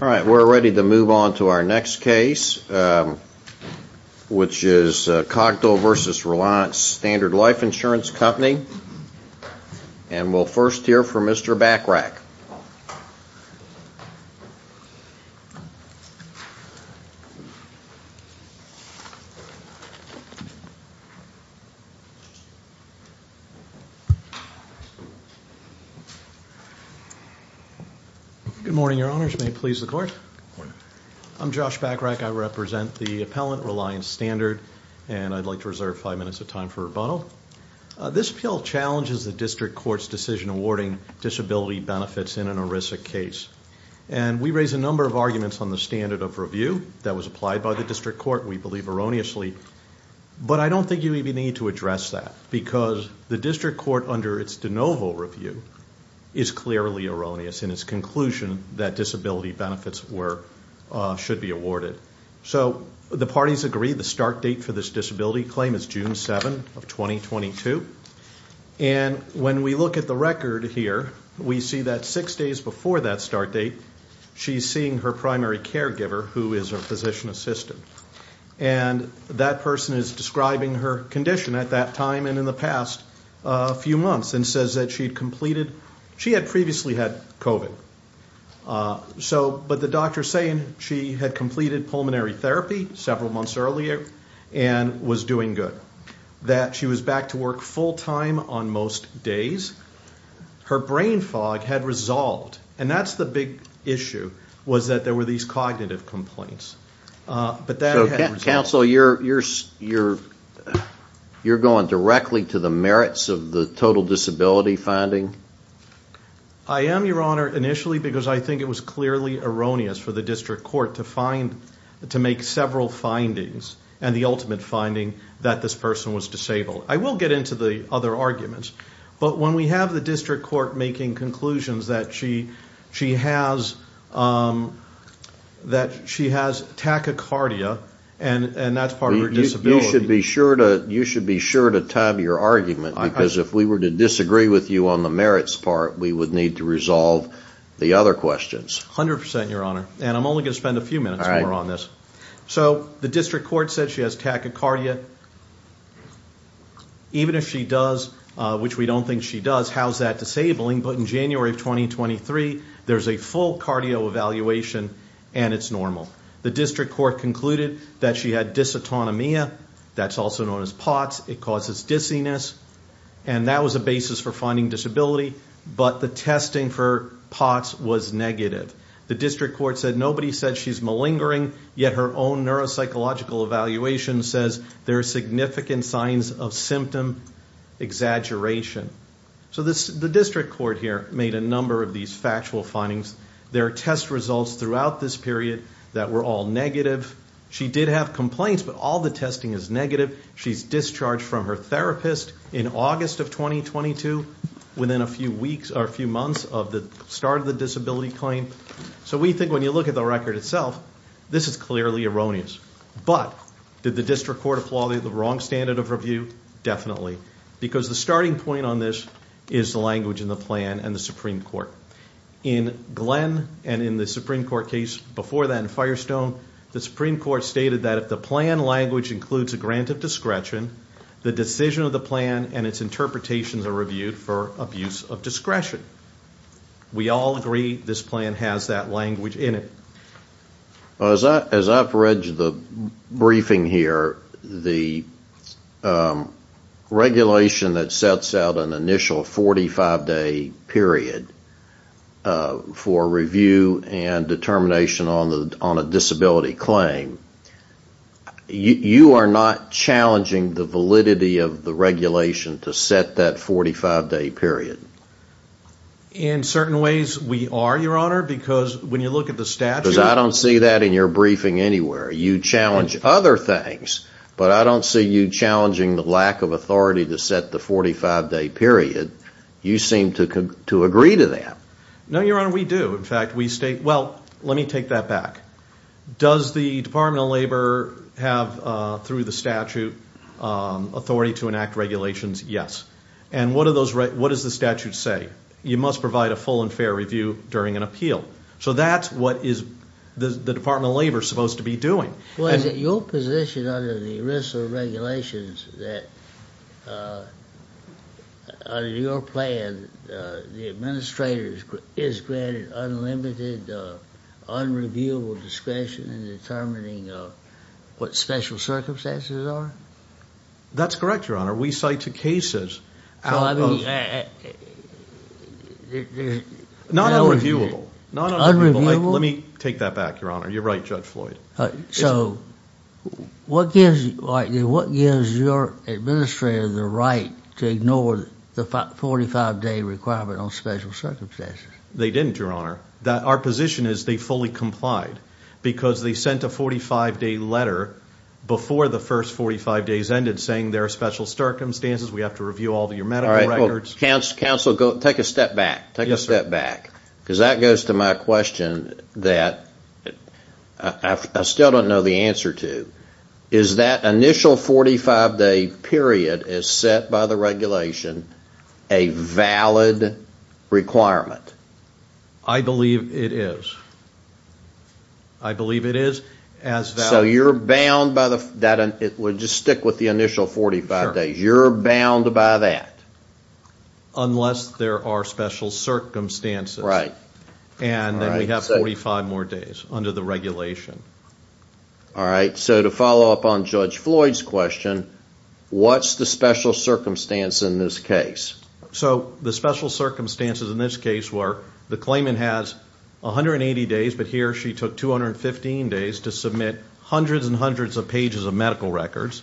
We're ready to move on to our next case, which is Cogdell v. Reliance Standard Life Insurance Company, and we'll first hear from Mr. Bachrach. Good morning, Your Honors. May it please the Court? Good morning. I'm Josh Bachrach. I represent the appellant, Reliance Standard, and I'd like to reserve five minutes of time for rebuttal. This appeal challenges the district court's decision awarding disability benefits in an ERISA case. And we raise a number of arguments on the standard of review that was applied by the district court, we believe erroneously, but I don't think you even need to address that because the district court, under its de novo review, is clearly erroneous in its conclusion that disability benefits should be awarded. So the parties agree the start date for this disability claim is June 7 of 2022. And when we look at the record here, we see that six days before that start date, she's seeing her primary caregiver, who is a physician assistant, and that person is describing her condition at that time and in the past few months and says that she had previously had COVID. But the doctor's saying she had completed pulmonary therapy several months earlier and was doing good, that she was back to work full time on most days. Her brain fog had resolved, and that's the big issue, was that there were these cognitive complaints. So, counsel, you're going directly to the merits of the total disability finding? I am, Your Honor, initially because I think it was clearly erroneous for the district court to find, to make several findings, and the ultimate finding that this person was disabled. I will get into the other arguments, but when we have the district court making conclusions that she has, that she has tachycardia, and that's part of her disability. You should be sure to time your argument, because if we were to disagree with you on the merits part, we would need to resolve the other questions. A hundred percent, Your Honor. And I'm only going to spend a few minutes more on this. So, the district court said she has tachycardia. Even if she does, which we don't think she does, how's that disabling? But in January of 2023, there's a full cardio evaluation, and it's normal. The district court concluded that she had dysautonomia. That's also known as POTS. It causes dizziness. And that was a basis for finding disability, but the testing for POTS was negative. The district court said nobody said she's malingering, yet her own neuropsychological evaluation says there are significant signs of symptom exaggeration. So, the district court here made a number of these factual findings. There are test results throughout this period that were all negative. She did have complaints, but all the testing is negative. She's discharged from her therapist in August of 2022, within a few weeks or a few months of the start of the disability claim. So, we think when you look at the record itself, this is clearly erroneous. But did the district court applaud the wrong standard of review? Definitely, because the starting point on this is the language in the plan and the Supreme Court. In Glenn and in the Supreme Court case before that in Firestone, the Supreme Court stated that if the plan language includes a grant of discretion, the decision of the plan and its interpretations are reviewed for abuse of discretion. We all agree this plan has that language in it. As I've read the briefing here, the regulation that sets out an initial 45-day period for review and determination on a disability claim, you are not challenging the validity of the regulation to set that 45-day period? In certain ways, we are, Your Honor, because when you look at the statute Because I don't see that in your briefing anywhere. You challenge other things, but I don't see you challenging the lack of authority to set the 45-day period. You seem to agree to that. No, Your Honor, we do. In fact, we state, well, let me take that back. Does the Department of Labor have, through the statute, authority to enact regulations? Yes. And what does the statute say? You must provide a full and fair review during an appeal. So that's what the Department of Labor is supposed to be doing. Well, is it your position under the ERISA regulations that, under your plan, the administrator is granted unlimited, unreviewable discretion in determining what special circumstances are? That's correct, Your Honor. We cite two cases out of those. Not unreviewable. Let me take that back, Your Honor. You're right, Judge Floyd. So what gives your administrator the right to ignore the 45-day requirement on special circumstances? They didn't, Your Honor. Our position is they fully complied because they sent a 45-day letter before the first 45 days ended saying there are special circumstances, we have to review all of your medical records. Counsel, take a step back. Yes, sir. Because that goes to my question that I still don't know the answer to. Is that initial 45-day period as set by the regulation a valid requirement? I believe it is. I believe it is as valid. So you're bound by the... We'll just stick with the initial 45 days. You're bound by that. Unless there are special circumstances. And then we have 45 more days under the regulation. All right. So to follow up on Judge Floyd's question, what's the special circumstance in this case? So the special circumstances in this case were the claimant has 180 days, but he or she took 215 days to submit hundreds and hundreds of pages of medical records.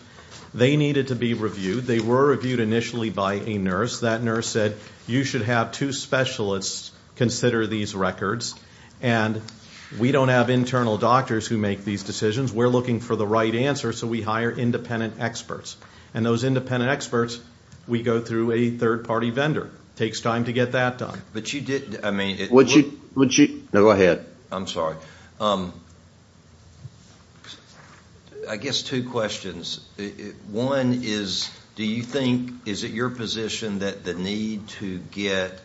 They needed to be reviewed. They were reviewed initially by a nurse. That nurse said, you should have two specialists consider these records. And we don't have internal doctors who make these decisions. We're looking for the right answer, so we hire independent experts. And those independent experts, we go through a third-party vendor. It takes time to get that done. But you did, I mean... Would you... No, go ahead. I'm sorry. I guess two questions. One is, do you think... Is it your position that the need to get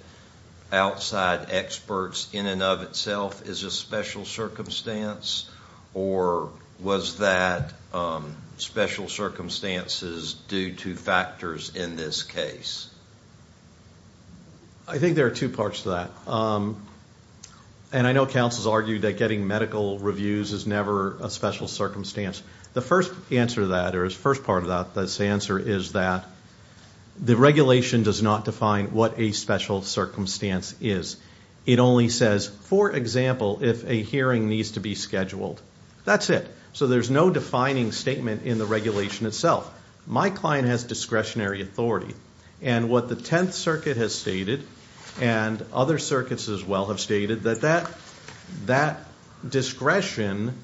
outside experts in and of itself is a special circumstance? Or was that special circumstances due to factors in this case? I think there are two parts to that. And I know counsel's argued that getting medical reviews is never a special circumstance. The first part of that answer is that the regulation does not define what a special circumstance is. It only says, for example, if a hearing needs to be scheduled, that's it. So there's no defining statement in the regulation itself. My client has discretionary authority. And what the Tenth Circuit has stated, and other circuits as well have stated, that that discretion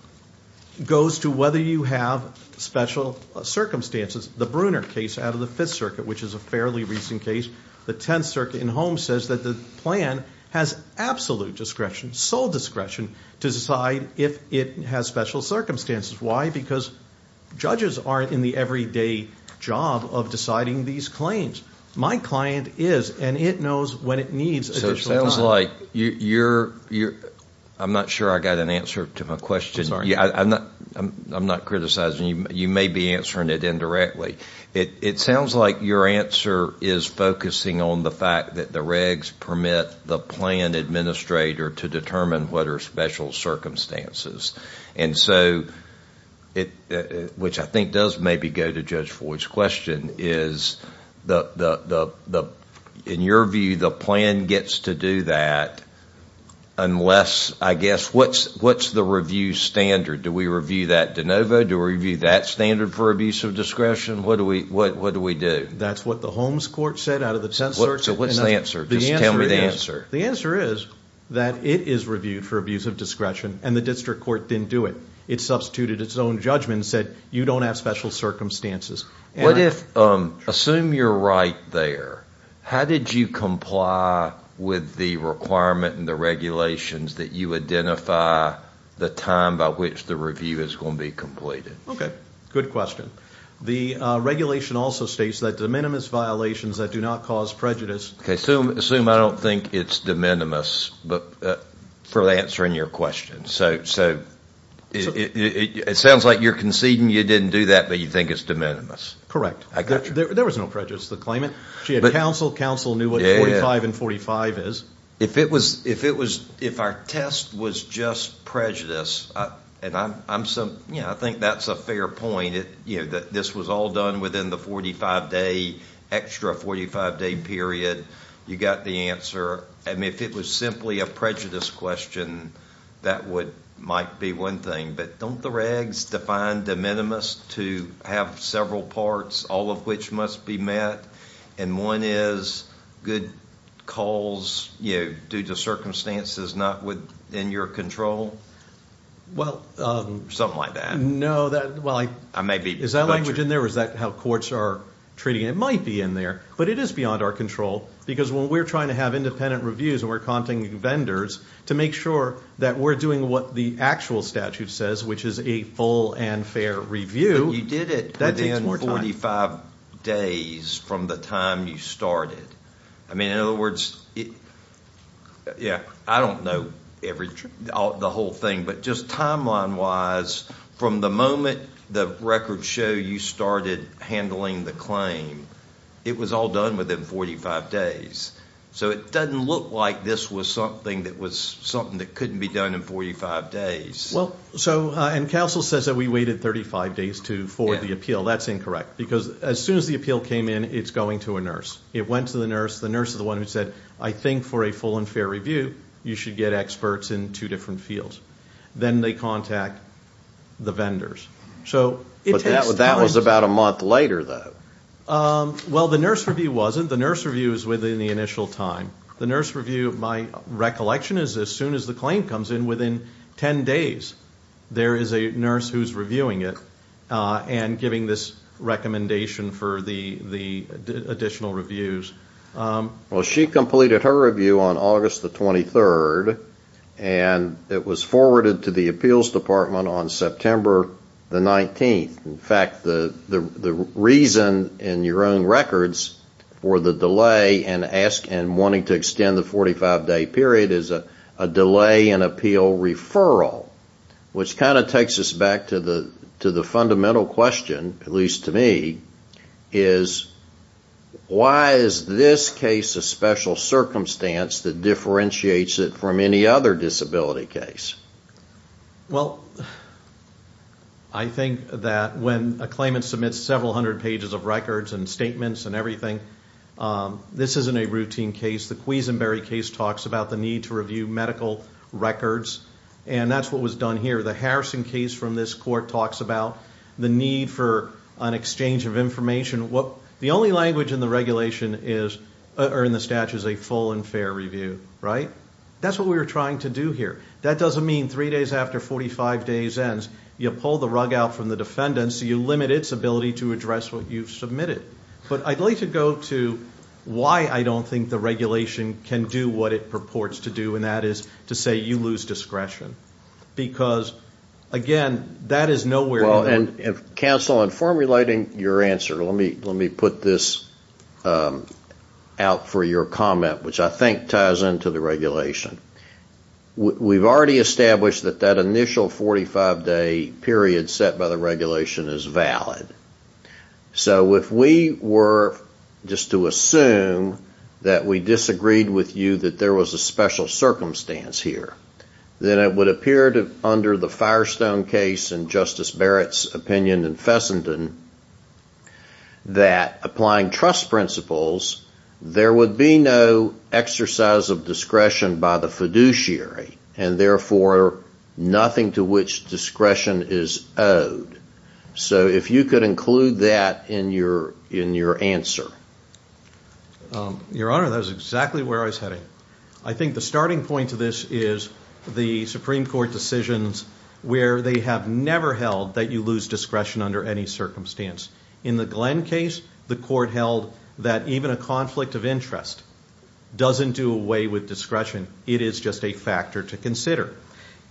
goes to whether you have special circumstances. The Brunner case out of the Fifth Circuit, which is a fairly recent case, the Tenth Circuit in Holmes says that the plan has absolute discretion, sole discretion, to decide if it has special circumstances. Why? Because judges aren't in the everyday job of deciding these claims. My client is, and it knows when it needs additional time. Mike, I'm not sure I got an answer to my question. I'm not criticizing. You may be answering it indirectly. It sounds like your answer is focusing on the fact that the regs permit the plan administrator to determine what are special circumstances. And so, which I think does maybe go to Judge Floyd's question, is in your view the plan gets to do that unless, I guess, what's the review standard? Do we review that de novo? Do we review that standard for abuse of discretion? What do we do? That's what the Holmes Court said out of the Tenth Circuit. So what's the answer? Just tell me the answer. The answer is that it is reviewed for abuse of discretion, and the district court didn't do it. It substituted its own judgment and said you don't have special circumstances. What if, assume you're right there, how did you comply with the requirement and the regulations that you identify the time by which the review is going to be completed? Okay, good question. The regulation also states that de minimis violations that do not cause prejudice. Okay, assume I don't think it's de minimis for answering your question. It sounds like you're conceding you didn't do that, but you think it's de minimis. I got you. There was no prejudice to the claimant. She had counsel. Counsel knew what 45 and 45 is. If our test was just prejudice, and I think that's a fair point, that this was all done within the 45-day, extra 45-day period, you got the answer. If it was simply a prejudice question, that might be one thing, but don't the regs define de minimis to have several parts, all of which must be met, and one is good calls due to circumstances not within your control? Something like that. Is that language in there, or is that how courts are treating it? It might be in there, but it is beyond our control, because when we're trying to have independent reviews and we're contacting vendors to make sure that we're doing what the actual statute says, which is a full and fair review, that takes more time. You did it within 45 days from the time you started. In other words, I don't know the whole thing, but just timeline-wise, from the moment the records show you started handling the claim, it was all done within 45 days. So it doesn't look like this was something that couldn't be done in 45 days. And counsel says that we waited 35 days for the appeal. That's incorrect, because as soon as the appeal came in, it's going to a nurse. It went to the nurse. The nurse is the one who said, I think for a full and fair review, you should get experts in two different fields. Then they contact the vendors. But that was about a month later, though. Well, the nurse review wasn't. The nurse review is within the initial time. The nurse review, my recollection, is as soon as the claim comes in, within 10 days, there is a nurse who's reviewing it and giving this recommendation for the additional reviews. Well, she completed her review on August the 23rd, and it was forwarded to the appeals department on September the 19th. In fact, the reason in your own records for the delay and wanting to extend the 45-day period is a delay in appeal referral, which kind of takes us back to the fundamental question, at least to me, is why is this case a special circumstance that differentiates it from any other disability case? Well, I think that when a claimant submits several hundred pages of records and statements and everything, this isn't a routine case. The Cuisinberry case talks about the need to review medical records, and that's what was done here. The Harrison case from this court talks about the need for an exchange of information. The only language in the statute is a full and fair review, right? That's what we were trying to do here. That doesn't mean three days after 45 days ends you pull the rug out from the defendant so you limit its ability to address what you've submitted. But I'd like to go to why I don't think the regulation can do what it purports to do, and that is to say you lose discretion. Because, again, that is nowhere in that. Counsel, in formulating your answer, let me put this out for your comment, which I think ties into the regulation. We've already established that that initial 45-day period set by the regulation is valid. So if we were just to assume that we disagreed with you that there was a special circumstance here, then it would appear under the Firestone case and Justice Barrett's opinion in Fessenden that applying trust principles, there would be no exercise of discretion by the fiduciary, and therefore nothing to which discretion is owed. So if you could include that in your answer. Your Honor, that is exactly where I was heading. I think the starting point to this is the Supreme Court decisions where they have never held that you lose discretion under any circumstance. In the Glenn case, the Court held that even a conflict of interest doesn't do away with discretion. It is just a factor to consider.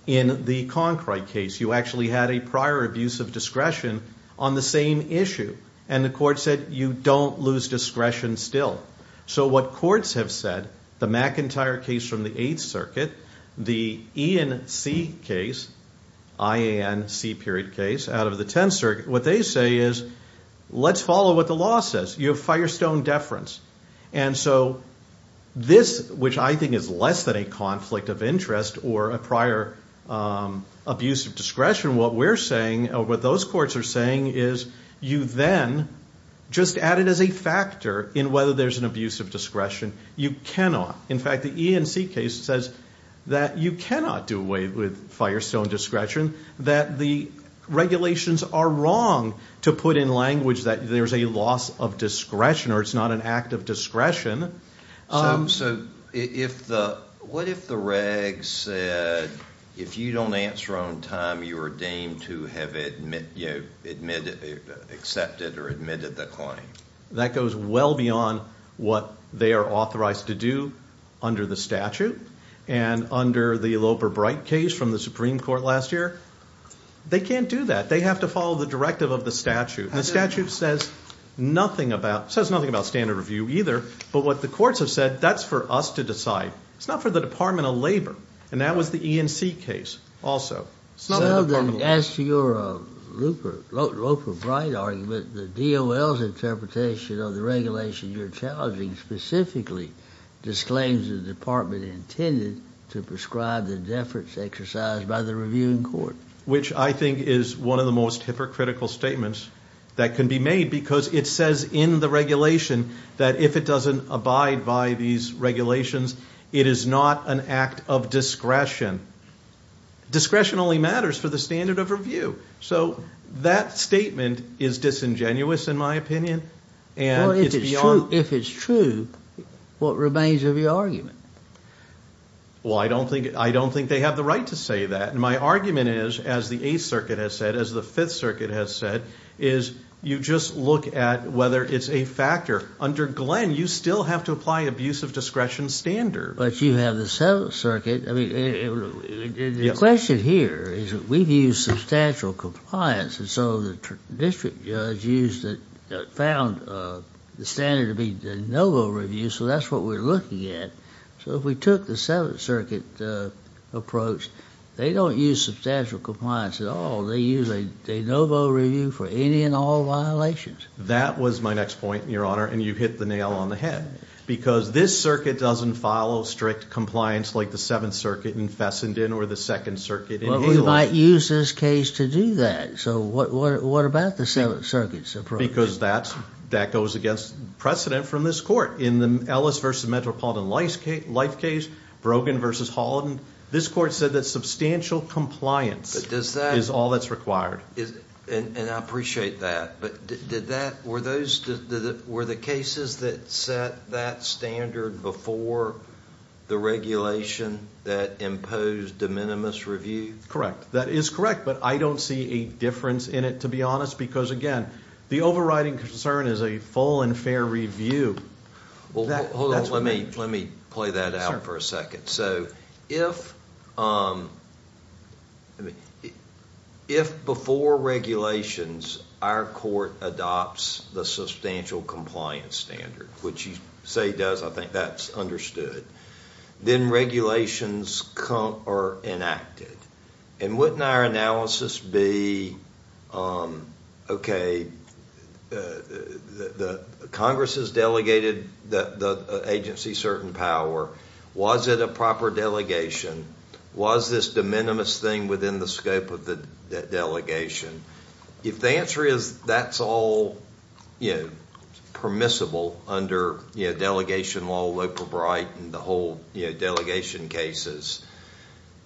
In the Concrite case, you actually had a prior abuse of discretion on the same issue, and the Court said you don't lose discretion still. So what courts have said, the McIntyre case from the Eighth Circuit, the Ian C. period case out of the Tenth Circuit, what they say is let's follow what the law says. You have Firestone deference. And so this, which I think is less than a conflict of interest or a prior abuse of discretion, what we're saying or what those courts are saying is you then just add it as a factor in whether there's an abuse of discretion. You cannot. In fact, the Ian C. case says that you cannot do away with Firestone discretion, that the regulations are wrong to put in language that there's a loss of discretion or it's not an act of discretion. So what if the regs said if you don't answer on time, you are deemed to have accepted or admitted the claim? That goes well beyond what they are authorized to do under the statute. And under the Alloper-Bright case from the Supreme Court last year, they can't do that. They have to follow the directive of the statute. And the statute says nothing about standard review either. But what the courts have said, that's for us to decide. It's not for the Department of Labor. And that was the Ian C. case also. As to your Alloper-Bright argument, the DOL's interpretation of the regulation you're challenging specifically disclaims the department intended to prescribe the deference exercised by the reviewing court. Which I think is one of the most hypocritical statements that can be made because it says in the regulation that if it doesn't abide by these regulations, it is not an act of discretion. Discretion only matters for the standard of review. So that statement is disingenuous in my opinion. Well, if it's true, what remains of your argument? Well, I don't think they have the right to say that. And my argument is, as the Eighth Circuit has said, as the Fifth Circuit has said, is you just look at whether it's a factor. Under Glenn, you still have to apply abuse of discretion standards. But you have the Seventh Circuit. The question here is we've used substantial compliance, and so the district judge found the standard to be the no-go review, so that's what we're looking at. So if we took the Seventh Circuit approach, they don't use substantial compliance at all. They use a no-go review for any and all violations. That was my next point, Your Honor, and you hit the nail on the head because this circuit doesn't follow strict compliance like the Seventh Circuit in Fessenden or the Second Circuit in Haley. Well, we might use this case to do that. So what about the Seventh Circuit's approach? Because that goes against precedent from this court. In the Ellis v. Metropolitan Life case, Brogan v. Holland, this court said that substantial compliance is all that's required. And I appreciate that, but were the cases that set that standard before the regulation that imposed de minimis review? Correct. That is correct, but I don't see a difference in it, to be honest, because, again, the overriding concern is a full and fair review. Hold on, let me play that out for a second. So if before regulations our court adopts the substantial compliance standard, which you say it does, I think that's understood, then regulations are enacted. And wouldn't our analysis be, okay, Congress has delegated the agency certain power. Was it a proper delegation? Was this de minimis thing within the scope of the delegation? If the answer is that's all permissible under delegation law, and the whole delegation cases,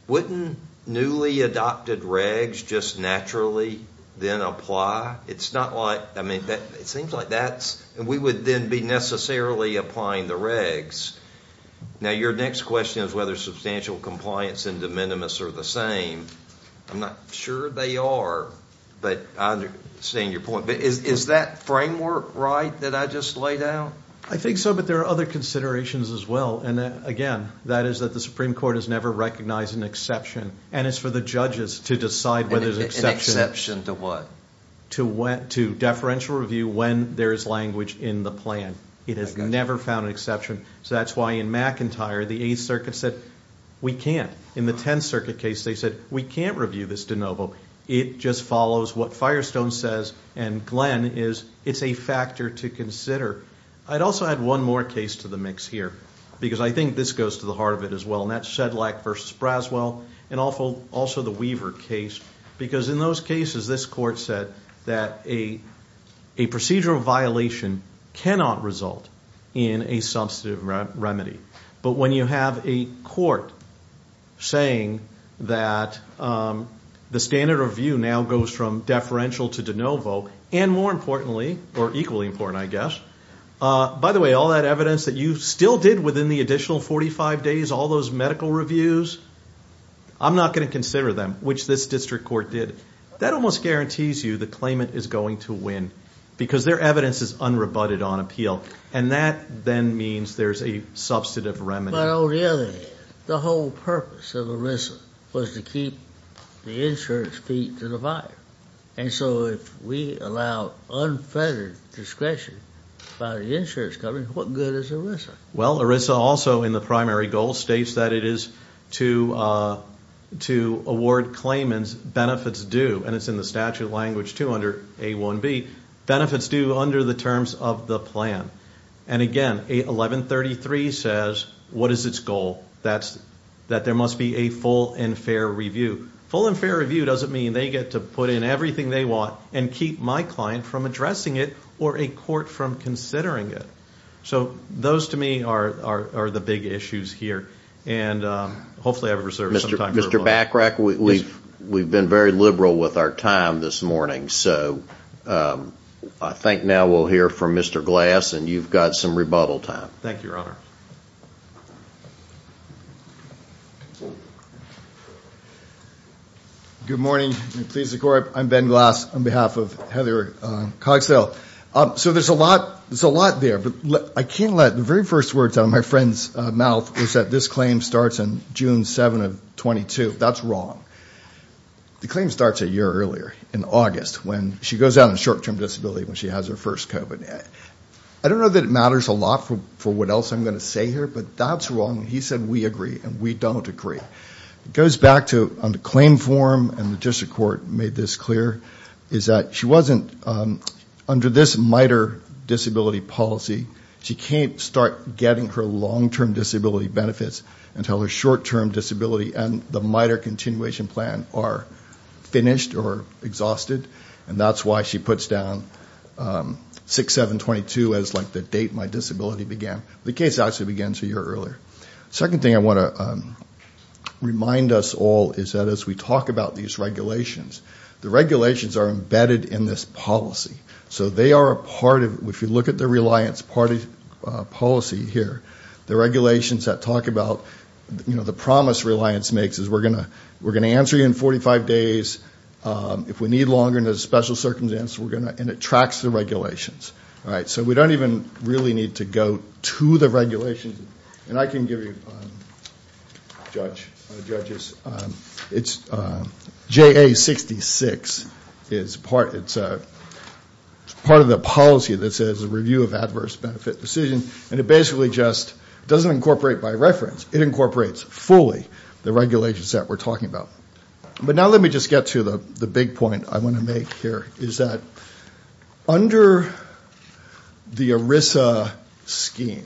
wouldn't newly adopted regs just naturally then apply? It's not like, I mean, it seems like that's, and we would then be necessarily applying the regs. Now your next question is whether substantial compliance and de minimis are the same. I'm not sure they are, but I understand your point. But is that framework right that I just laid out? I think so, but there are other considerations as well. And, again, that is that the Supreme Court has never recognized an exception. And it's for the judges to decide whether there's an exception. An exception to what? To deferential review when there is language in the plan. It has never found an exception. So that's why in McIntyre the Eighth Circuit said we can't. In the Tenth Circuit case they said we can't review this de novo. It just follows what Firestone says and Glenn is it's a factor to consider. I'd also add one more case to the mix here, because I think this goes to the heart of it as well, and that's Shedlack v. Braswell and also the Weaver case, because in those cases this court said that a procedural violation cannot result in a substantive remedy. But when you have a court saying that the standard of view now goes from deferential to de novo, and more importantly, or equally important, I guess, by the way, all that evidence that you still did within the additional 45 days, all those medical reviews, I'm not going to consider them, which this district court did. That almost guarantees you the claimant is going to win, because their evidence is unrebutted on appeal. And that then means there's a substantive remedy. But, on the other hand, the whole purpose of ERISA was to keep the insurance fee to the buyer. And so if we allow unfettered discretion by the insurance company, what good is ERISA? Well, ERISA also in the primary goal states that it is to award claimants benefits due, and it's in the statute of language too under A1B, benefits due under the terms of the plan. And, again, 1133 says what is its goal? That there must be a full and fair review. Full and fair review doesn't mean they get to put in everything they want and keep my client from addressing it or a court from considering it. So those to me are the big issues here. And hopefully I've reserved some time for rebuttal. Mr. Bachrach, we've been very liberal with our time this morning. So I think now we'll hear from Mr. Glass, and you've got some rebuttal time. Thank you, Your Honor. Good morning. I'm pleased to corporate. I'm Ben Glass on behalf of Heather Cogsdale. So there's a lot there, but I can't let the very first words out of my friend's mouth is that this claim starts on June 7 of 22. That's wrong. The claim starts a year earlier in August when she goes out on short-term disability when she has her first COVID. I don't know that it matters a lot for what else I'm going to say here, but that's wrong. He said we agree, and we don't agree. It goes back to the claim form, and the district court made this clear, is that she wasn't under this MITRE disability policy. She can't start getting her long-term disability benefits until her short-term disability and the MITRE continuation plan are finished or exhausted. And that's why she puts down 6-7-22 as, like, the date my disability began. The case actually began a year earlier. The second thing I want to remind us all is that as we talk about these regulations, the regulations are embedded in this policy. So they are a part of it. If you look at the reliance policy here, the regulations that talk about, you know, the promise reliance makes is we're going to answer you in 45 days. If we need longer and there's a special circumstance, we're going to. And it tracks the regulations. So we don't even really need to go to the regulations. And I can give you, judge, judges, it's JA-66. It's part of the policy that says review of adverse benefit decision, and it basically just doesn't incorporate by reference. It incorporates fully the regulations that we're talking about. But now let me just get to the big point I want to make here, is that under the ERISA scheme,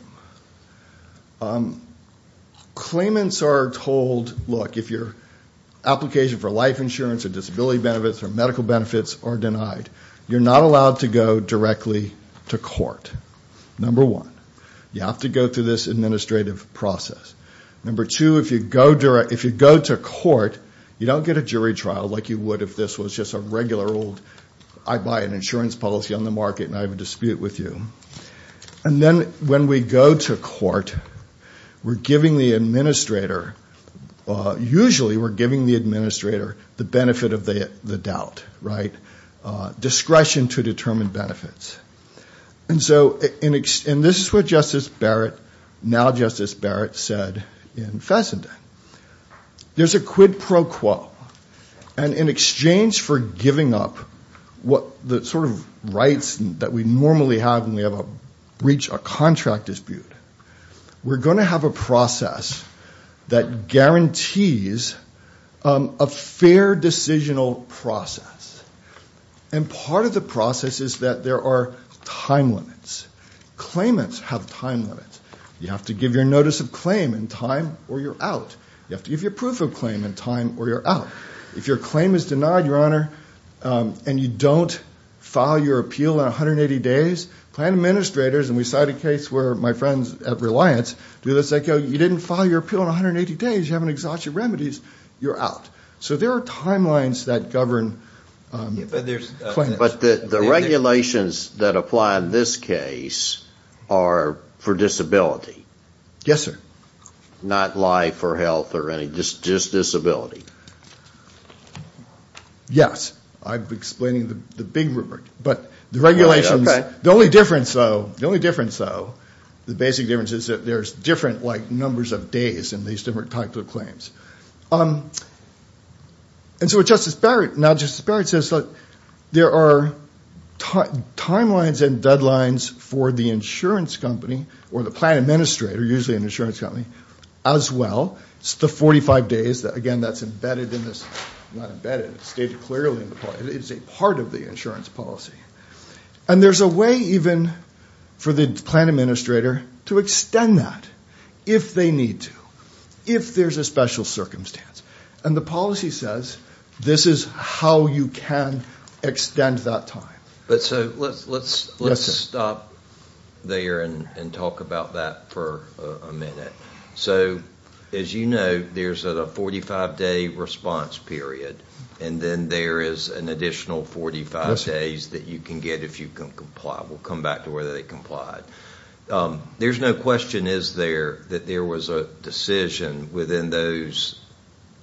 claimants are told, look, if your application for life insurance or disability benefits or medical benefits are denied, you're not allowed to go directly to court, number one. You have to go through this administrative process. Number two, if you go to court, you don't get a jury trial like you would if this was just a regular old, I buy an insurance policy on the market and I have a dispute with you. And then when we go to court, we're giving the administrator, usually we're giving the administrator the benefit of the doubt, right? Discretion to determine benefits. And so this is what Justice Barrett, now Justice Barrett, said in Fessenden. There's a quid pro quo. And in exchange for giving up the sort of rights that we normally have when we reach a contract dispute, we're going to have a process that guarantees a fair decisional process. And part of the process is that there are time limits. Claimants have time limits. You have to give your notice of claim in time or you're out. You have to give your proof of claim in time or you're out. If your claim is denied, Your Honor, and you don't file your appeal in 180 days, plan administrators, and we cite a case where my friends at Reliance do this, they go, you didn't file your appeal in 180 days, you haven't exhausted remedies, you're out. So there are timelines that govern claims. But the regulations that apply in this case are for disability. Yes, sir. Not life or health or anything, just disability. Yes. I'm explaining the big rubric. But the regulations, the only difference, though, the only difference, though, the basic difference is that there's different, like, numbers of days in these different types of claims. And so Justice Barrett, now Justice Barrett says, look, there are timelines and deadlines for the insurance company or the plan administrator, usually an insurance company, as well. It's the 45 days. Again, that's embedded in this. Not embedded. It's stated clearly in the policy. It's a part of the insurance policy. And there's a way even for the plan administrator to extend that if they need to, if there's a special circumstance. And the policy says this is how you can extend that time. But so let's stop there and talk about that for a minute. So as you know, there's a 45-day response period, and then there is an additional 45 days that you can get if you comply. We'll come back to whether they complied. There's no question, is there, that there was a decision within those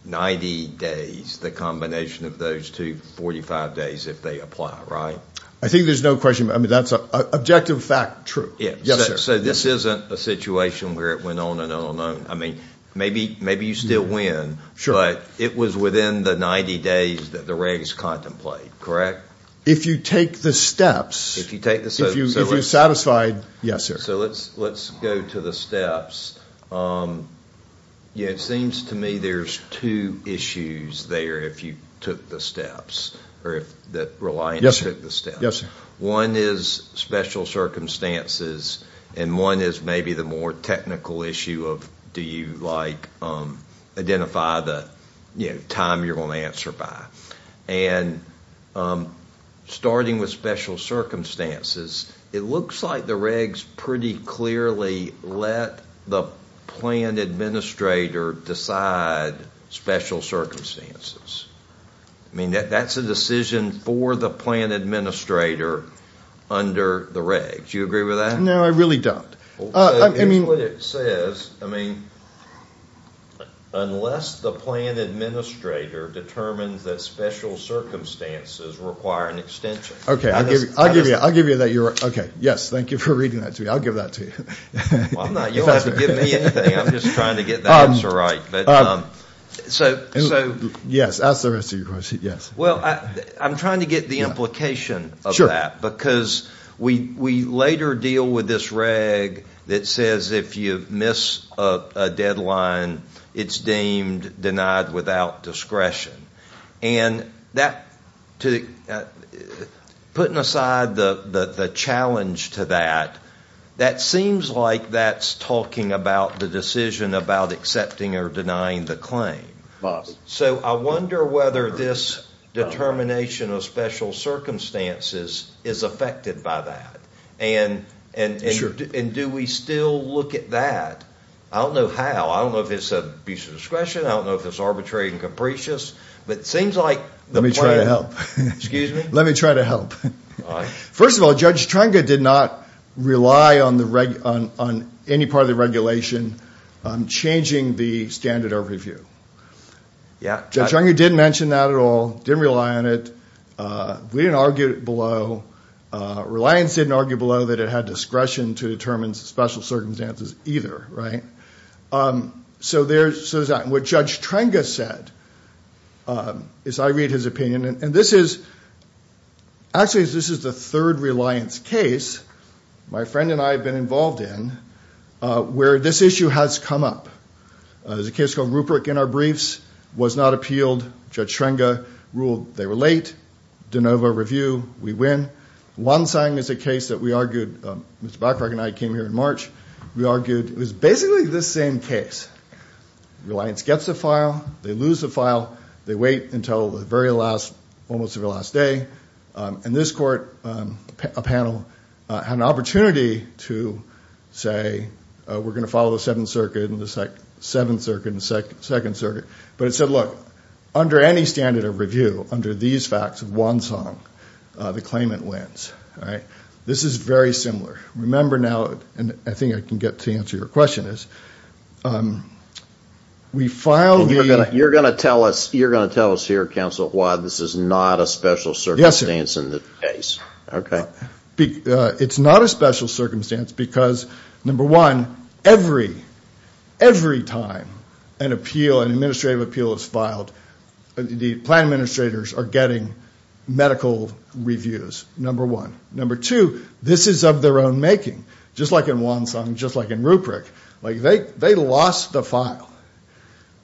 90 days, the combination of those two 45 days, if they apply, right? I think there's no question. I mean, that's an objective fact, true. Yes, sir. So this isn't a situation where it went on and on and on. I mean, maybe you still win. Sure. But it was within the 90 days that the regs contemplate, correct? If you take the steps. If you take the steps. If you're satisfied. Yes, sir. So let's go to the steps. It seems to me there's two issues there if you took the steps, or that reliance took the steps. Yes, sir. One is special circumstances, and one is maybe the more technical issue of do you, like, identify the time you're going to answer by. And starting with special circumstances, it looks like the regs pretty clearly let the plan administrator decide special circumstances. I mean, that's a decision for the plan administrator under the regs. Do you agree with that? No, I really don't. Here's what it says. I mean, unless the plan administrator determines that special circumstances require an extension. Okay, I'll give you that. Yes, thank you for reading that to me. I'll give that to you. You don't have to give me anything. I'm just trying to get the answer right. Yes, ask the rest of your question. Well, I'm trying to get the implication of that. Because we later deal with this reg that says if you miss a deadline, it's deemed denied without discretion. And putting aside the challenge to that, that seems like that's talking about the decision about accepting or denying the claim. So I wonder whether this determination of special circumstances is affected by that. And do we still look at that? I don't know how. I don't know if it's an abuse of discretion. I don't know if it's arbitrary and capricious. But it seems like the plan Let me try to help. Excuse me? Let me try to help. First of all, Judge Trenga did not rely on any part of the regulation changing the standard of review. Judge Trenga didn't mention that at all. Didn't rely on it. We didn't argue it below. Reliance didn't argue below that it had discretion to determine special circumstances either, right? So there's that. And what Judge Trenga said, as I read his opinion, and this is, actually this is the third Reliance case my friend and I have been involved in, where this issue has come up. There's a case called Rupert in our briefs. Was not appealed. Judge Trenga ruled they were late. De novo review. We win. Wonsang is a case that we argued. Mr. Bachrach and I came here in March. We argued it was basically the same case. Reliance gets the file. They lose the file. They wait until the very last, almost the very last day. And this court, a panel, had an opportunity to say, we're going to follow the Seventh Circuit and the Second Circuit. But it said, look, under any standard of review, under these facts of Wonsang, the claimant wins. This is very similar. Remember now, and I think I can get to answer your question is, we filed the. You're going to tell us here, Counsel, why this is not a special circumstance in the case. It's not a special circumstance because, number one, every time an appeal, an administrative appeal is filed, the plan administrators are getting medical reviews, number one. Number two, this is of their own making. Just like in Wonsang, just like in Rupert. They lost the file.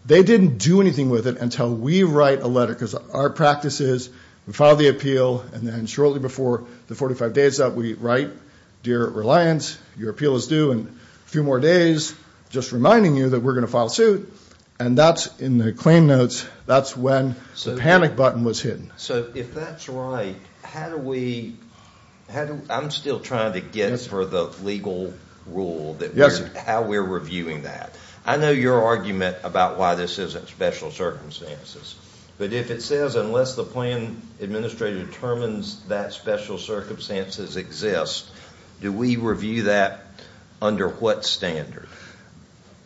They didn't do anything with it until we write a letter because our practice is we file the appeal, and then shortly before the 45 days that we write, dear Reliance, your appeal is due in a few more days, just reminding you that we're going to file suit. And that's in the claim notes. That's when the panic button was hidden. So if that's right, how do we, I'm still trying to get for the legal rule, how we're reviewing that. I know your argument about why this isn't special circumstances, but if it says unless the plan administrator determines that special circumstances exist, do we review that under what standard?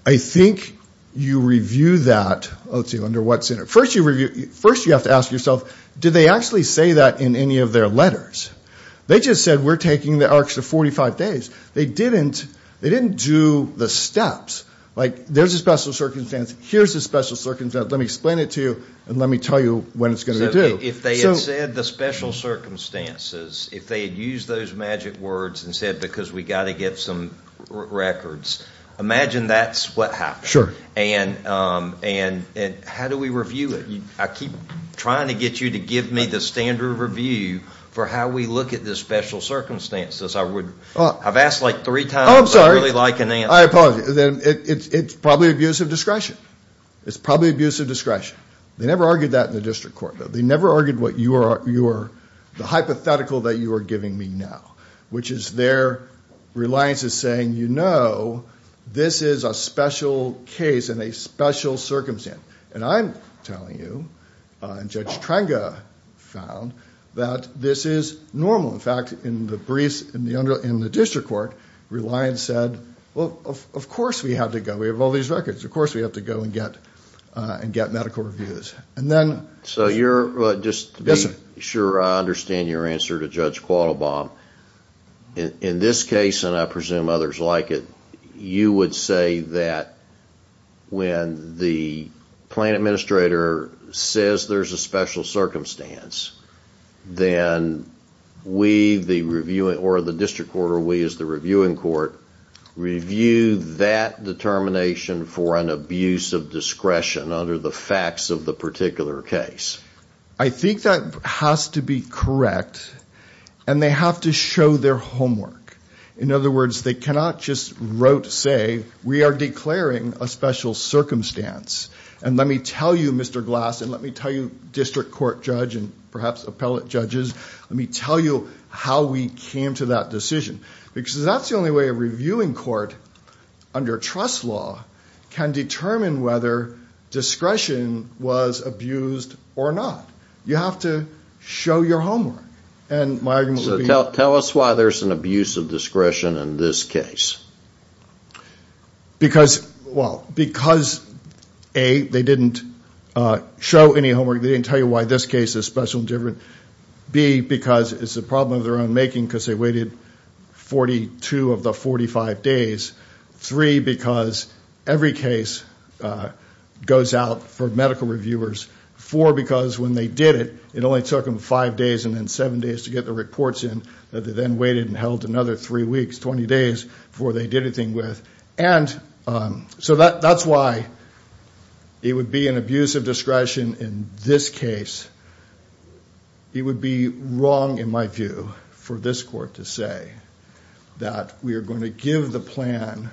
I think you review that, let's see, under what standard. First you have to ask yourself, did they actually say that in any of their letters? They just said we're taking the extra 45 days. They didn't do the steps, like there's a special circumstance, here's a special circumstance, let me explain it to you, and let me tell you when it's going to be due. So if they had said the special circumstances, if they had used those magic words and said because we've got to get some records, imagine that's what happened. Sure. And how do we review it? I keep trying to get you to give me the standard review for how we look at the special circumstances. I've asked like three times. Oh, I'm sorry. I really like an answer. I apologize. It's probably abuse of discretion. It's probably abuse of discretion. They never argued that in the district court. They never argued what you are, the hypothetical that you are giving me now, which is their reliance is saying, you know, this is a special case and a special circumstance. And I'm telling you, and Judge Trenga found, that this is normal. In fact, in the briefs in the district court, reliance said, well, of course we have to go. We have all these records. Of course we have to go and get medical reviews. So just to be sure I understand your answer to Judge Quattlebaum, in this case, and I presume others like it, you would say that when the plan administrator says there's a special circumstance, then we, the district court, or we as the reviewing court, review that determination for an abuse of discretion under the facts of the particular case. I think that has to be correct, and they have to show their homework. In other words, they cannot just wrote say, we are declaring a special circumstance, and let me tell you, Mr. Glass, and let me tell you, district court judge, and perhaps appellate judges, let me tell you how we came to that decision. Because that's the only way a reviewing court, under trust law, can determine whether discretion was abused or not. You have to show your homework. So tell us why there's an abuse of discretion in this case. Because, well, because A, they didn't show any homework. They didn't tell you why this case is special and different. B, because it's a problem of their own making because they waited 42 of the 45 days. Three, because every case goes out for medical reviewers. Four, because when they did it, it only took them five days and then seven days to get the reports in. They then waited and held another three weeks, 20 days, before they did anything with. And so that's why it would be an abuse of discretion in this case. It would be wrong, in my view, for this court to say that we are going to give the plan,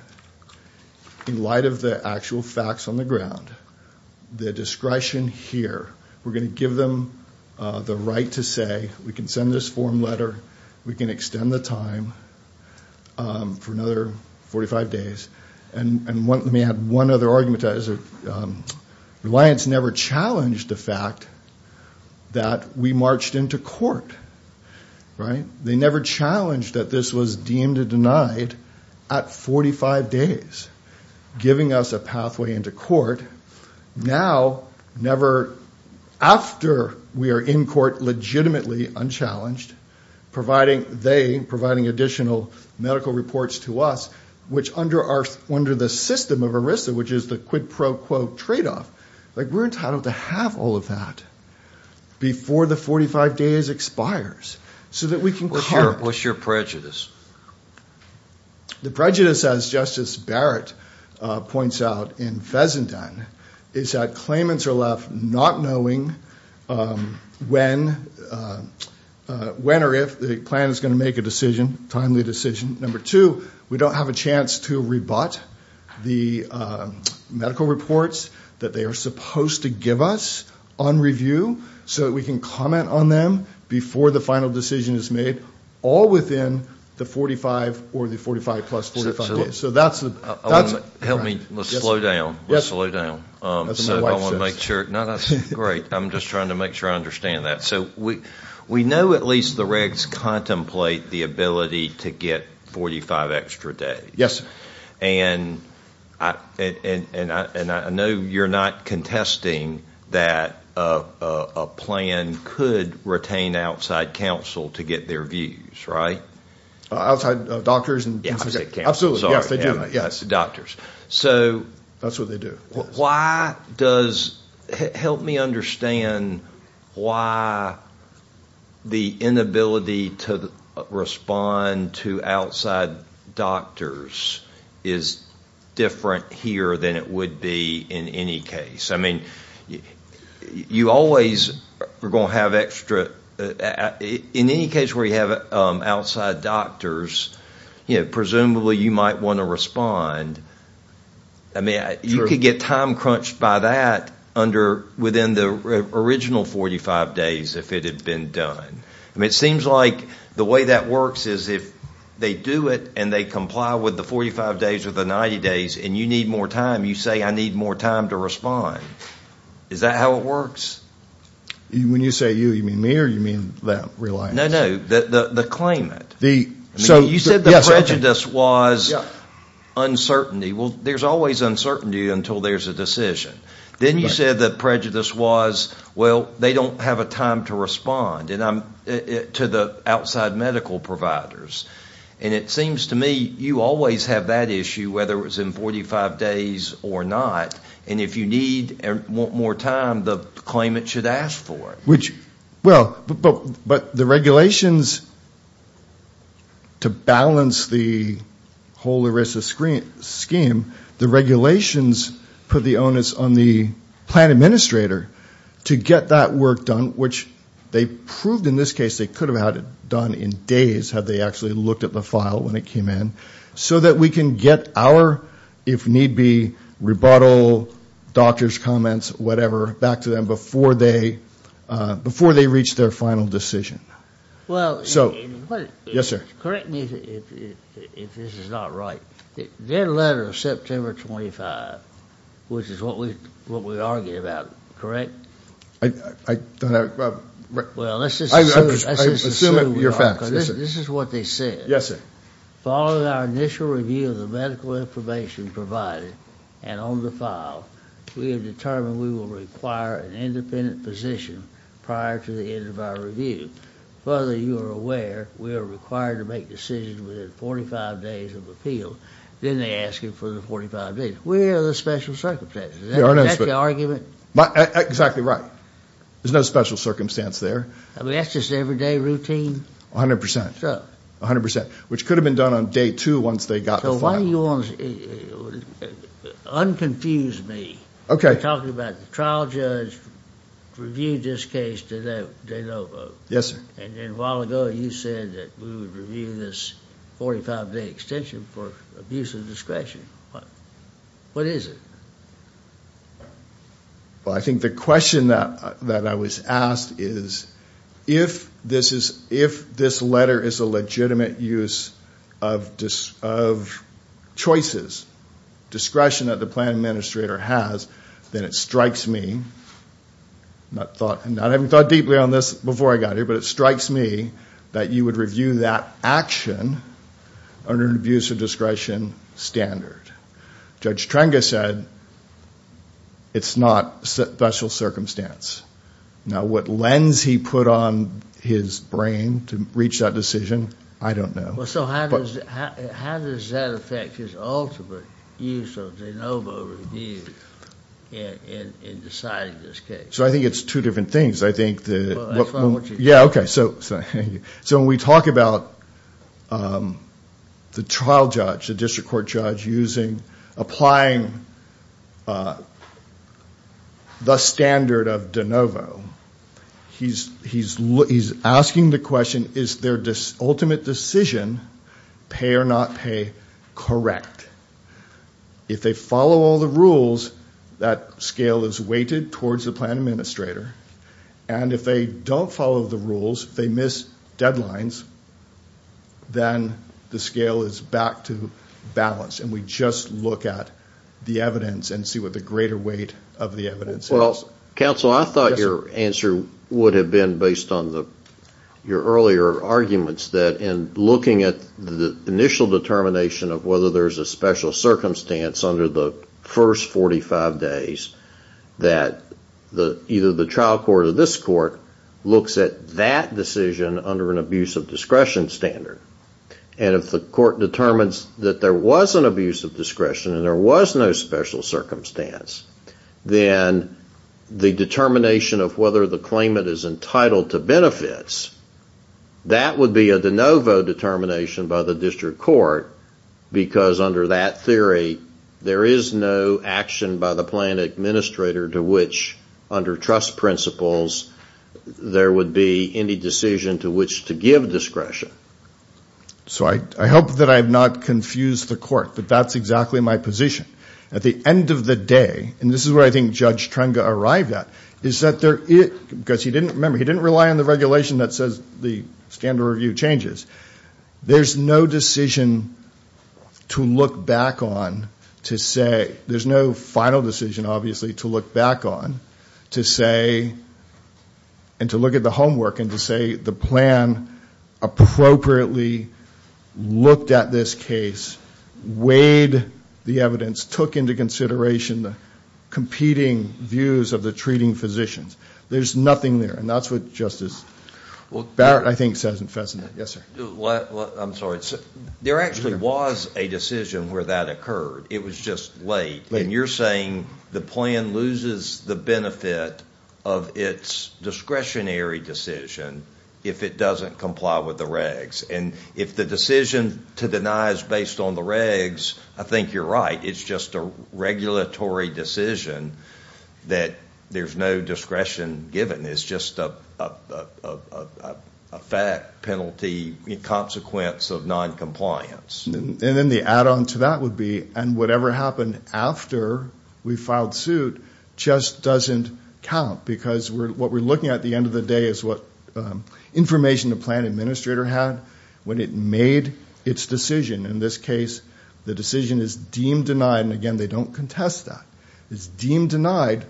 in light of the actual facts on the ground, the discretion here. We're going to give them the right to say, we can send this form letter. We can extend the time for another 45 days. And let me add one other argument to that. Reliance never challenged the fact that we marched into court. They never challenged that this was deemed and denied at 45 days, giving us a pathway into court. Now, never after we are in court legitimately unchallenged, providing they, providing additional medical reports to us, which under the system of ERISA, which is the quid pro quo tradeoff, we're entitled to have all of that before the 45 days expires so that we can cart. What's your prejudice? The prejudice, as Justice Barrett points out in Fezenden, is that claimants are left not knowing when or if the plan is going to make a decision, timely decision. Number two, we don't have a chance to rebut the medical reports that they are supposed to give us on review so that we can comment on them before the final decision is made, all within the 45 or the 45 plus 45 days. So that's the. Help me. Let's slow down. Let's slow down. So I want to make sure. No, that's great. I'm just trying to make sure I understand that. So we know at least the regs contemplate the ability to get 45 extra days. Yes. And I know you're not contesting that a plan could retain outside counsel to get their views, right? Outside doctors. Absolutely. Yes, they do. Doctors. That's what they do. Help me understand why the inability to respond to outside doctors is different here than it would be in any case. I mean, you always are going to have extra. In any case where you have outside doctors, presumably you might want to respond. I mean, you could get time crunched by that within the original 45 days if it had been done. I mean, it seems like the way that works is if they do it and they comply with the 45 days or the 90 days and you need more time, you say I need more time to respond. Is that how it works? When you say you, you mean me or you mean that reliance? No, no, the claimant. You said the prejudice was uncertainty. Well, there's always uncertainty until there's a decision. Then you said the prejudice was, well, they don't have a time to respond to the outside medical providers. And it seems to me you always have that issue whether it's in 45 days or not. And if you need more time, the claimant should ask for it. Which, well, but the regulations to balance the whole ERISA scheme, the regulations put the onus on the plan administrator to get that work done, which they proved in this case they could have had it done in days had they actually looked at the file when it came in, so that we can get our, if need be, rebuttal, doctor's comments, whatever, back to them before they reach their final decision. Well, correct me if this is not right. Their letter of September 25, which is what we argued about, correct? I don't have it. Well, let's just assume we are. This is what they said. Yes, sir. Following our initial review of the medical information provided and on the file, we have determined we will require an independent physician prior to the end of our review. Further, you are aware we are required to make decisions within 45 days of appeal. Then they ask you for the 45 days. Where are the special circumstances? Is that the argument? Exactly right. There's no special circumstance there. I mean, that's just everyday routine. 100%. 100%, which could have been done on day two once they got the file. So why do you want to unconfuse me? Okay. You're talking about the trial judge reviewed this case the day before. Yes, sir. And then a while ago you said that we would review this 45-day extension for abuse of discretion. What is it? Well, I think the question that I was asked is if this letter is a legitimate use of choices, discretion that the plan administrator has, then it strikes me, and I haven't thought deeply on this before I got here, but it strikes me that you would review that action under an abuse of discretion standard. Judge Trenga said it's not special circumstance. Now, what lens he put on his brain to reach that decision, I don't know. Well, so how does that affect his ultimate use of de novo review in deciding this case? So I think it's two different things. Well, that's not what you're talking about. Yeah, okay. So when we talk about the trial judge, the district court judge, applying the standard of de novo, he's asking the question, is their ultimate decision, pay or not pay, correct? If they follow all the rules, that scale is weighted towards the plan administrator, and if they don't follow the rules, if they miss deadlines, then the scale is back to balance, and we just look at the evidence and see what the greater weight of the evidence is. Well, counsel, I thought your answer would have been based on your earlier arguments that in looking at the initial determination of whether there's a special circumstance under the first 45 days that either the trial court or this court looks at that decision under an abuse of discretion standard, and if the court determines that there was an abuse of discretion and there was no special circumstance, then the determination of whether the claimant is entitled to benefits, that would be a de novo determination by the district court, because under that theory, there is no action by the plan administrator to which, under trust principles, there would be any decision to which to give discretion. So I hope that I have not confused the court, but that's exactly my position. At the end of the day, and this is where I think Judge Trenga arrived at, is that there is, because he didn't, remember, he didn't rely on the regulation that says the standard review changes, there's no decision to look back on to say, there's no final decision, obviously, to look back on to say, and to look at the homework and to say the plan appropriately looked at this case, weighed the evidence, took into consideration the competing views of the treating physicians. There's nothing there, and that's what Justice Barrett, I think, says in Fessner. Yes, sir. I'm sorry. There actually was a decision where that occurred. It was just late. And you're saying the plan loses the benefit of its discretionary decision if it doesn't comply with the regs. And if the decision to deny is based on the regs, I think you're right. It's just a regulatory decision that there's no discretion given. It's just a fat penalty consequence of noncompliance. And then the add-on to that would be, and whatever happened after we filed suit just doesn't count, because what we're looking at at the end of the day is what information the plan administrator had when it made its decision. In this case, the decision is deemed denied, and again, they don't contest that. It's deemed denied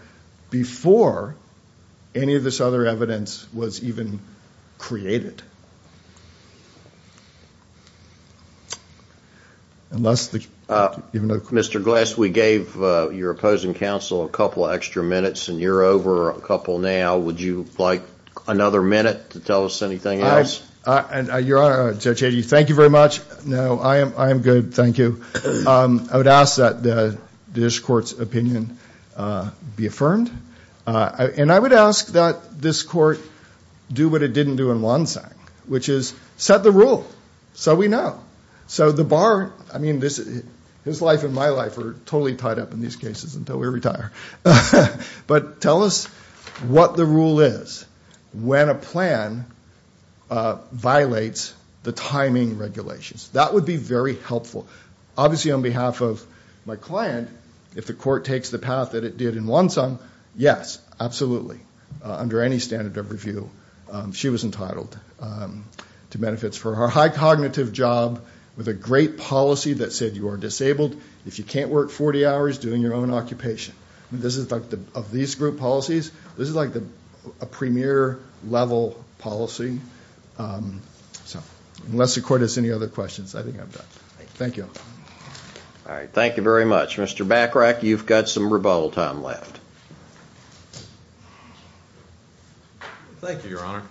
before any of this other evidence was even created. Mr. Glass, we gave your opposing counsel a couple extra minutes, and you're over a couple now. Would you like another minute to tell us anything else? Your Honor, Judge Hagey, thank you very much. No, I am good, thank you. I would ask that this Court's opinion be affirmed. And I would ask that this Court do what it didn't do in Wonsang, which is set the rule so we know. So the bar, I mean, his life and my life are totally tied up in these cases until we retire. But tell us what the rule is when a plan violates the timing regulations. That would be very helpful. Yes, absolutely. Under any standard of review, she was entitled to benefits for her high cognitive job with a great policy that said you are disabled. If you can't work 40 hours, doing your own occupation. Of these group policies, this is like a premier level policy. So unless the Court has any other questions, I think I'm done. Thank you. All right, thank you very much. Mr. Bachrach, you've got some rebuttal time left. Thank you, Your Honor.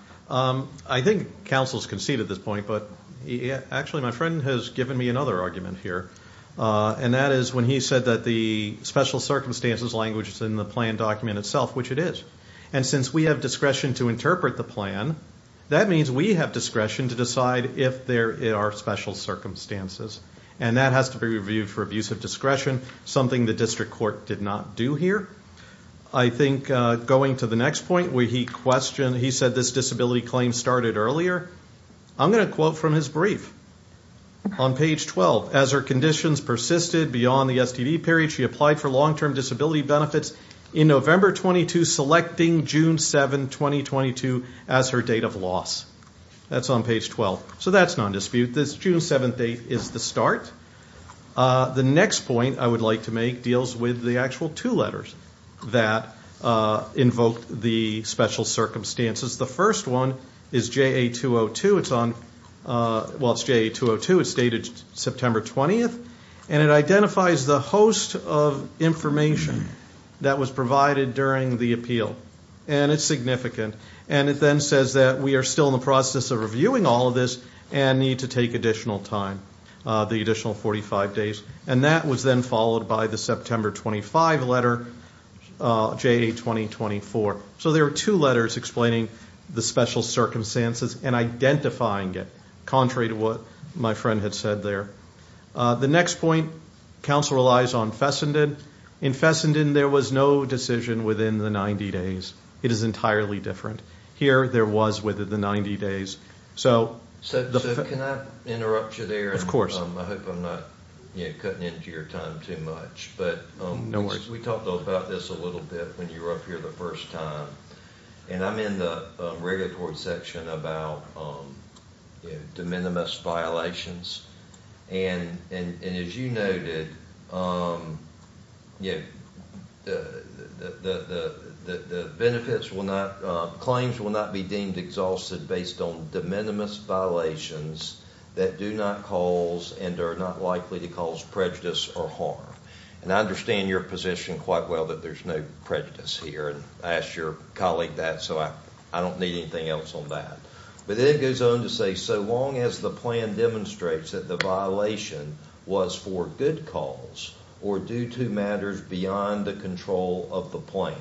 I think counsel's conceded this point, but actually my friend has given me another argument here. And that is when he said that the special circumstances language is in the plan document itself, which it is. And since we have discretion to interpret the plan, that means we have discretion to decide if there are special circumstances. And that has to be reviewed for abuse of discretion, something the District Court did not do here. I think going to the next point where he said this disability claim started earlier, I'm going to quote from his brief on page 12. As her conditions persisted beyond the STD period, she applied for long-term disability benefits in November 22, selecting June 7, 2022 as her date of loss. That's on page 12. So that's non-dispute. This June 7 date is the start. The next point I would like to make deals with the actual two letters that invoked the special circumstances. The first one is JA202. It's on, well, it's JA202. It's dated September 20, and it identifies the host of information that was provided during the appeal. And it's significant. And it then says that we are still in the process of reviewing all of this and need to take additional time, the additional 45 days. And that was then followed by the September 25 letter, JA2024. So there are two letters explaining the special circumstances and identifying it, contrary to what my friend had said there. The next point, counsel relies on Fessenden. In Fessenden, there was no decision within the 90 days. It is entirely different. Here, there was within the 90 days. So can I interrupt you there? Of course. I hope I'm not cutting into your time too much. But we talked about this a little bit when you were up here the first time. And I'm in the regulatory section about de minimis violations. And as you noted, the benefits will not, claims will not be deemed exhausted based on de minimis violations that do not cause and are not likely to cause prejudice or harm. And I understand your position quite well that there's no prejudice here. And I asked your colleague that, so I don't need anything else on that. But then it goes on to say, so long as the plan demonstrates that the violation was for good cause or due to matters beyond the control of the plan,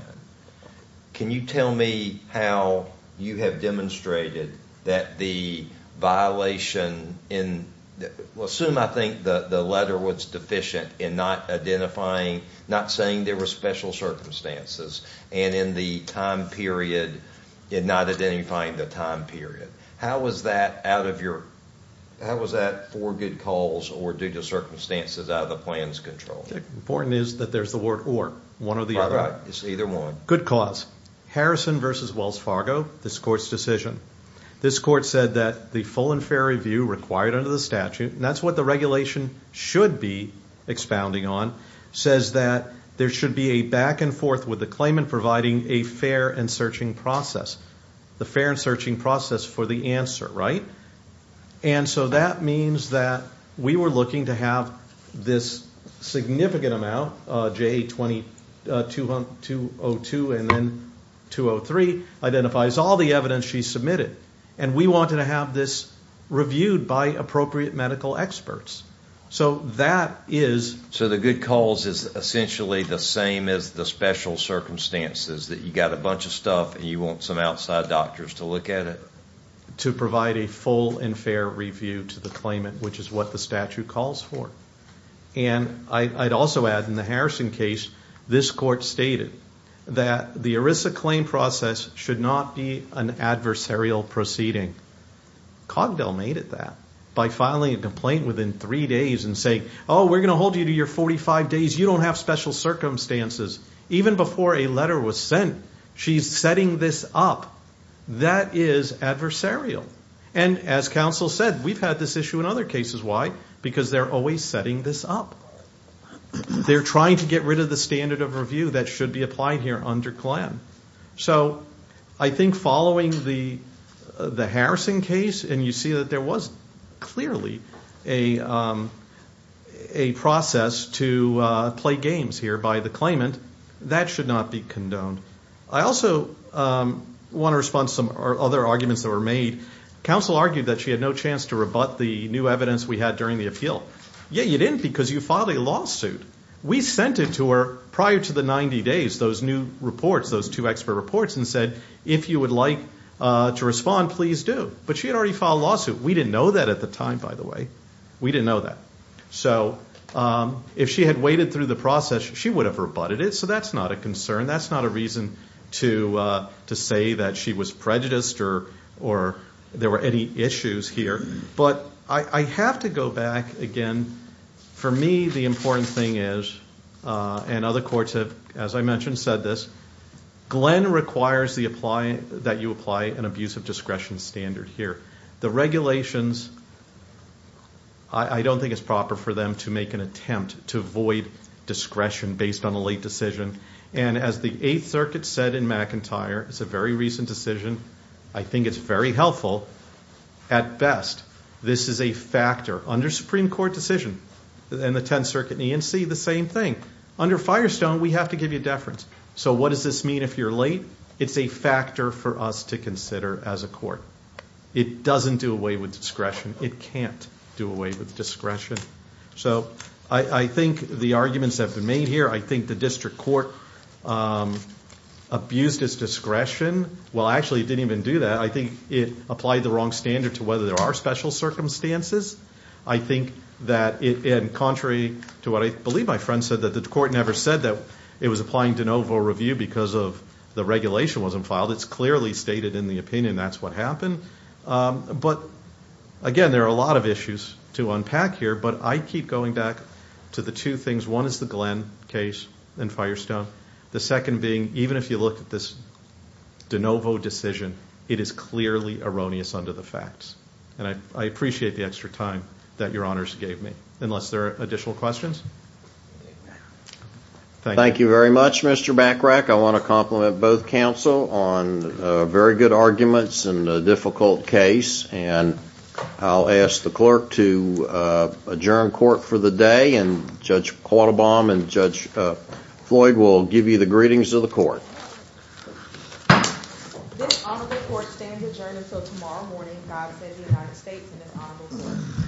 can you tell me how you have demonstrated that the violation in, assume I think the letter was deficient in not identifying, not saying there were special circumstances, and in the time period, in not identifying the time period. How was that for good cause or due to circumstances out of the plan's control? The important is that there's the word or. One or the other. Good cause. Harrison v. Wells Fargo, this Court's decision. This Court said that the full and fair review required under the statute, and that's what the regulation should be expounding on, says that there should be a back and forth with the claimant providing a fair and searching process. The fair and searching process for the answer, right? And so that means that we were looking to have this significant amount, JA-20-202 and then 203 identifies all the evidence she submitted. And we wanted to have this reviewed by appropriate medical experts. So that is. So the good cause is essentially the same as the special circumstances, that you got a bunch of stuff and you want some outside doctors to look at it. To provide a full and fair review to the claimant, which is what the statute calls for. And I'd also add in the Harrison case, this Court stated that the ERISA claim process should not be an adversarial proceeding. Cogdell made it that by filing a complaint within three days and saying, Oh, we're going to hold you to your 45 days. You don't have special circumstances. Even before a letter was sent, she's setting this up. That is adversarial. And as counsel said, we've had this issue in other cases. Why? Because they're always setting this up. They're trying to get rid of the standard of review that should be applied here under CLAM. So I think following the Harrison case, and you see that there was clearly a process to play games here by the claimant, that should not be condoned. I also want to respond to some other arguments that were made. Counsel argued that she had no chance to rebut the new evidence we had during the appeal. Yet you didn't because you filed a lawsuit. We sent it to her prior to the 90 days, those new reports, those two expert reports, and said, If you would like to respond, please do. But she had already filed a lawsuit. We didn't know that at the time, by the way. We didn't know that. So if she had waited through the process, she would have rebutted it. So that's not a concern. That's not a reason to say that she was prejudiced or there were any issues here. But I have to go back again. For me, the important thing is, and other courts have, as I mentioned, said this, Glenn requires that you apply an abusive discretion standard here. The regulations, I don't think it's proper for them to make an attempt to avoid discretion based on a late decision. And as the Eighth Circuit said in McIntyre, it's a very recent decision. I think it's very helpful at best. This is a factor under Supreme Court decision. And the Tenth Circuit and E&C, the same thing. Under Firestone, we have to give you deference. So what does this mean if you're late? It's a factor for us to consider as a court. It doesn't do away with discretion. It can't do away with discretion. So I think the arguments have been made here. I think the district court abused its discretion. Well, actually it didn't even do that. I think it applied the wrong standard to whether there are special circumstances. I think that contrary to what I believe my friend said, that the court never said that it was applying de novo review because the regulation wasn't filed. It's clearly stated in the opinion that's what happened. But again, there are a lot of issues to unpack here, but I keep going back to the two things. One is the Glenn case and Firestone. The second being, even if you look at this de novo decision, it is clearly erroneous under the facts. And I appreciate the extra time that your honors gave me. Unless there are additional questions? Thank you very much, Mr. Bachrach. I want to compliment both counsel on very good arguments and a difficult case. And I'll ask the clerk to adjourn court for the day. And Judge Quattlebaum and Judge Floyd will give you the greetings of the court. This honorable court stands adjourned until tomorrow morning. God save the United States and this honorable court.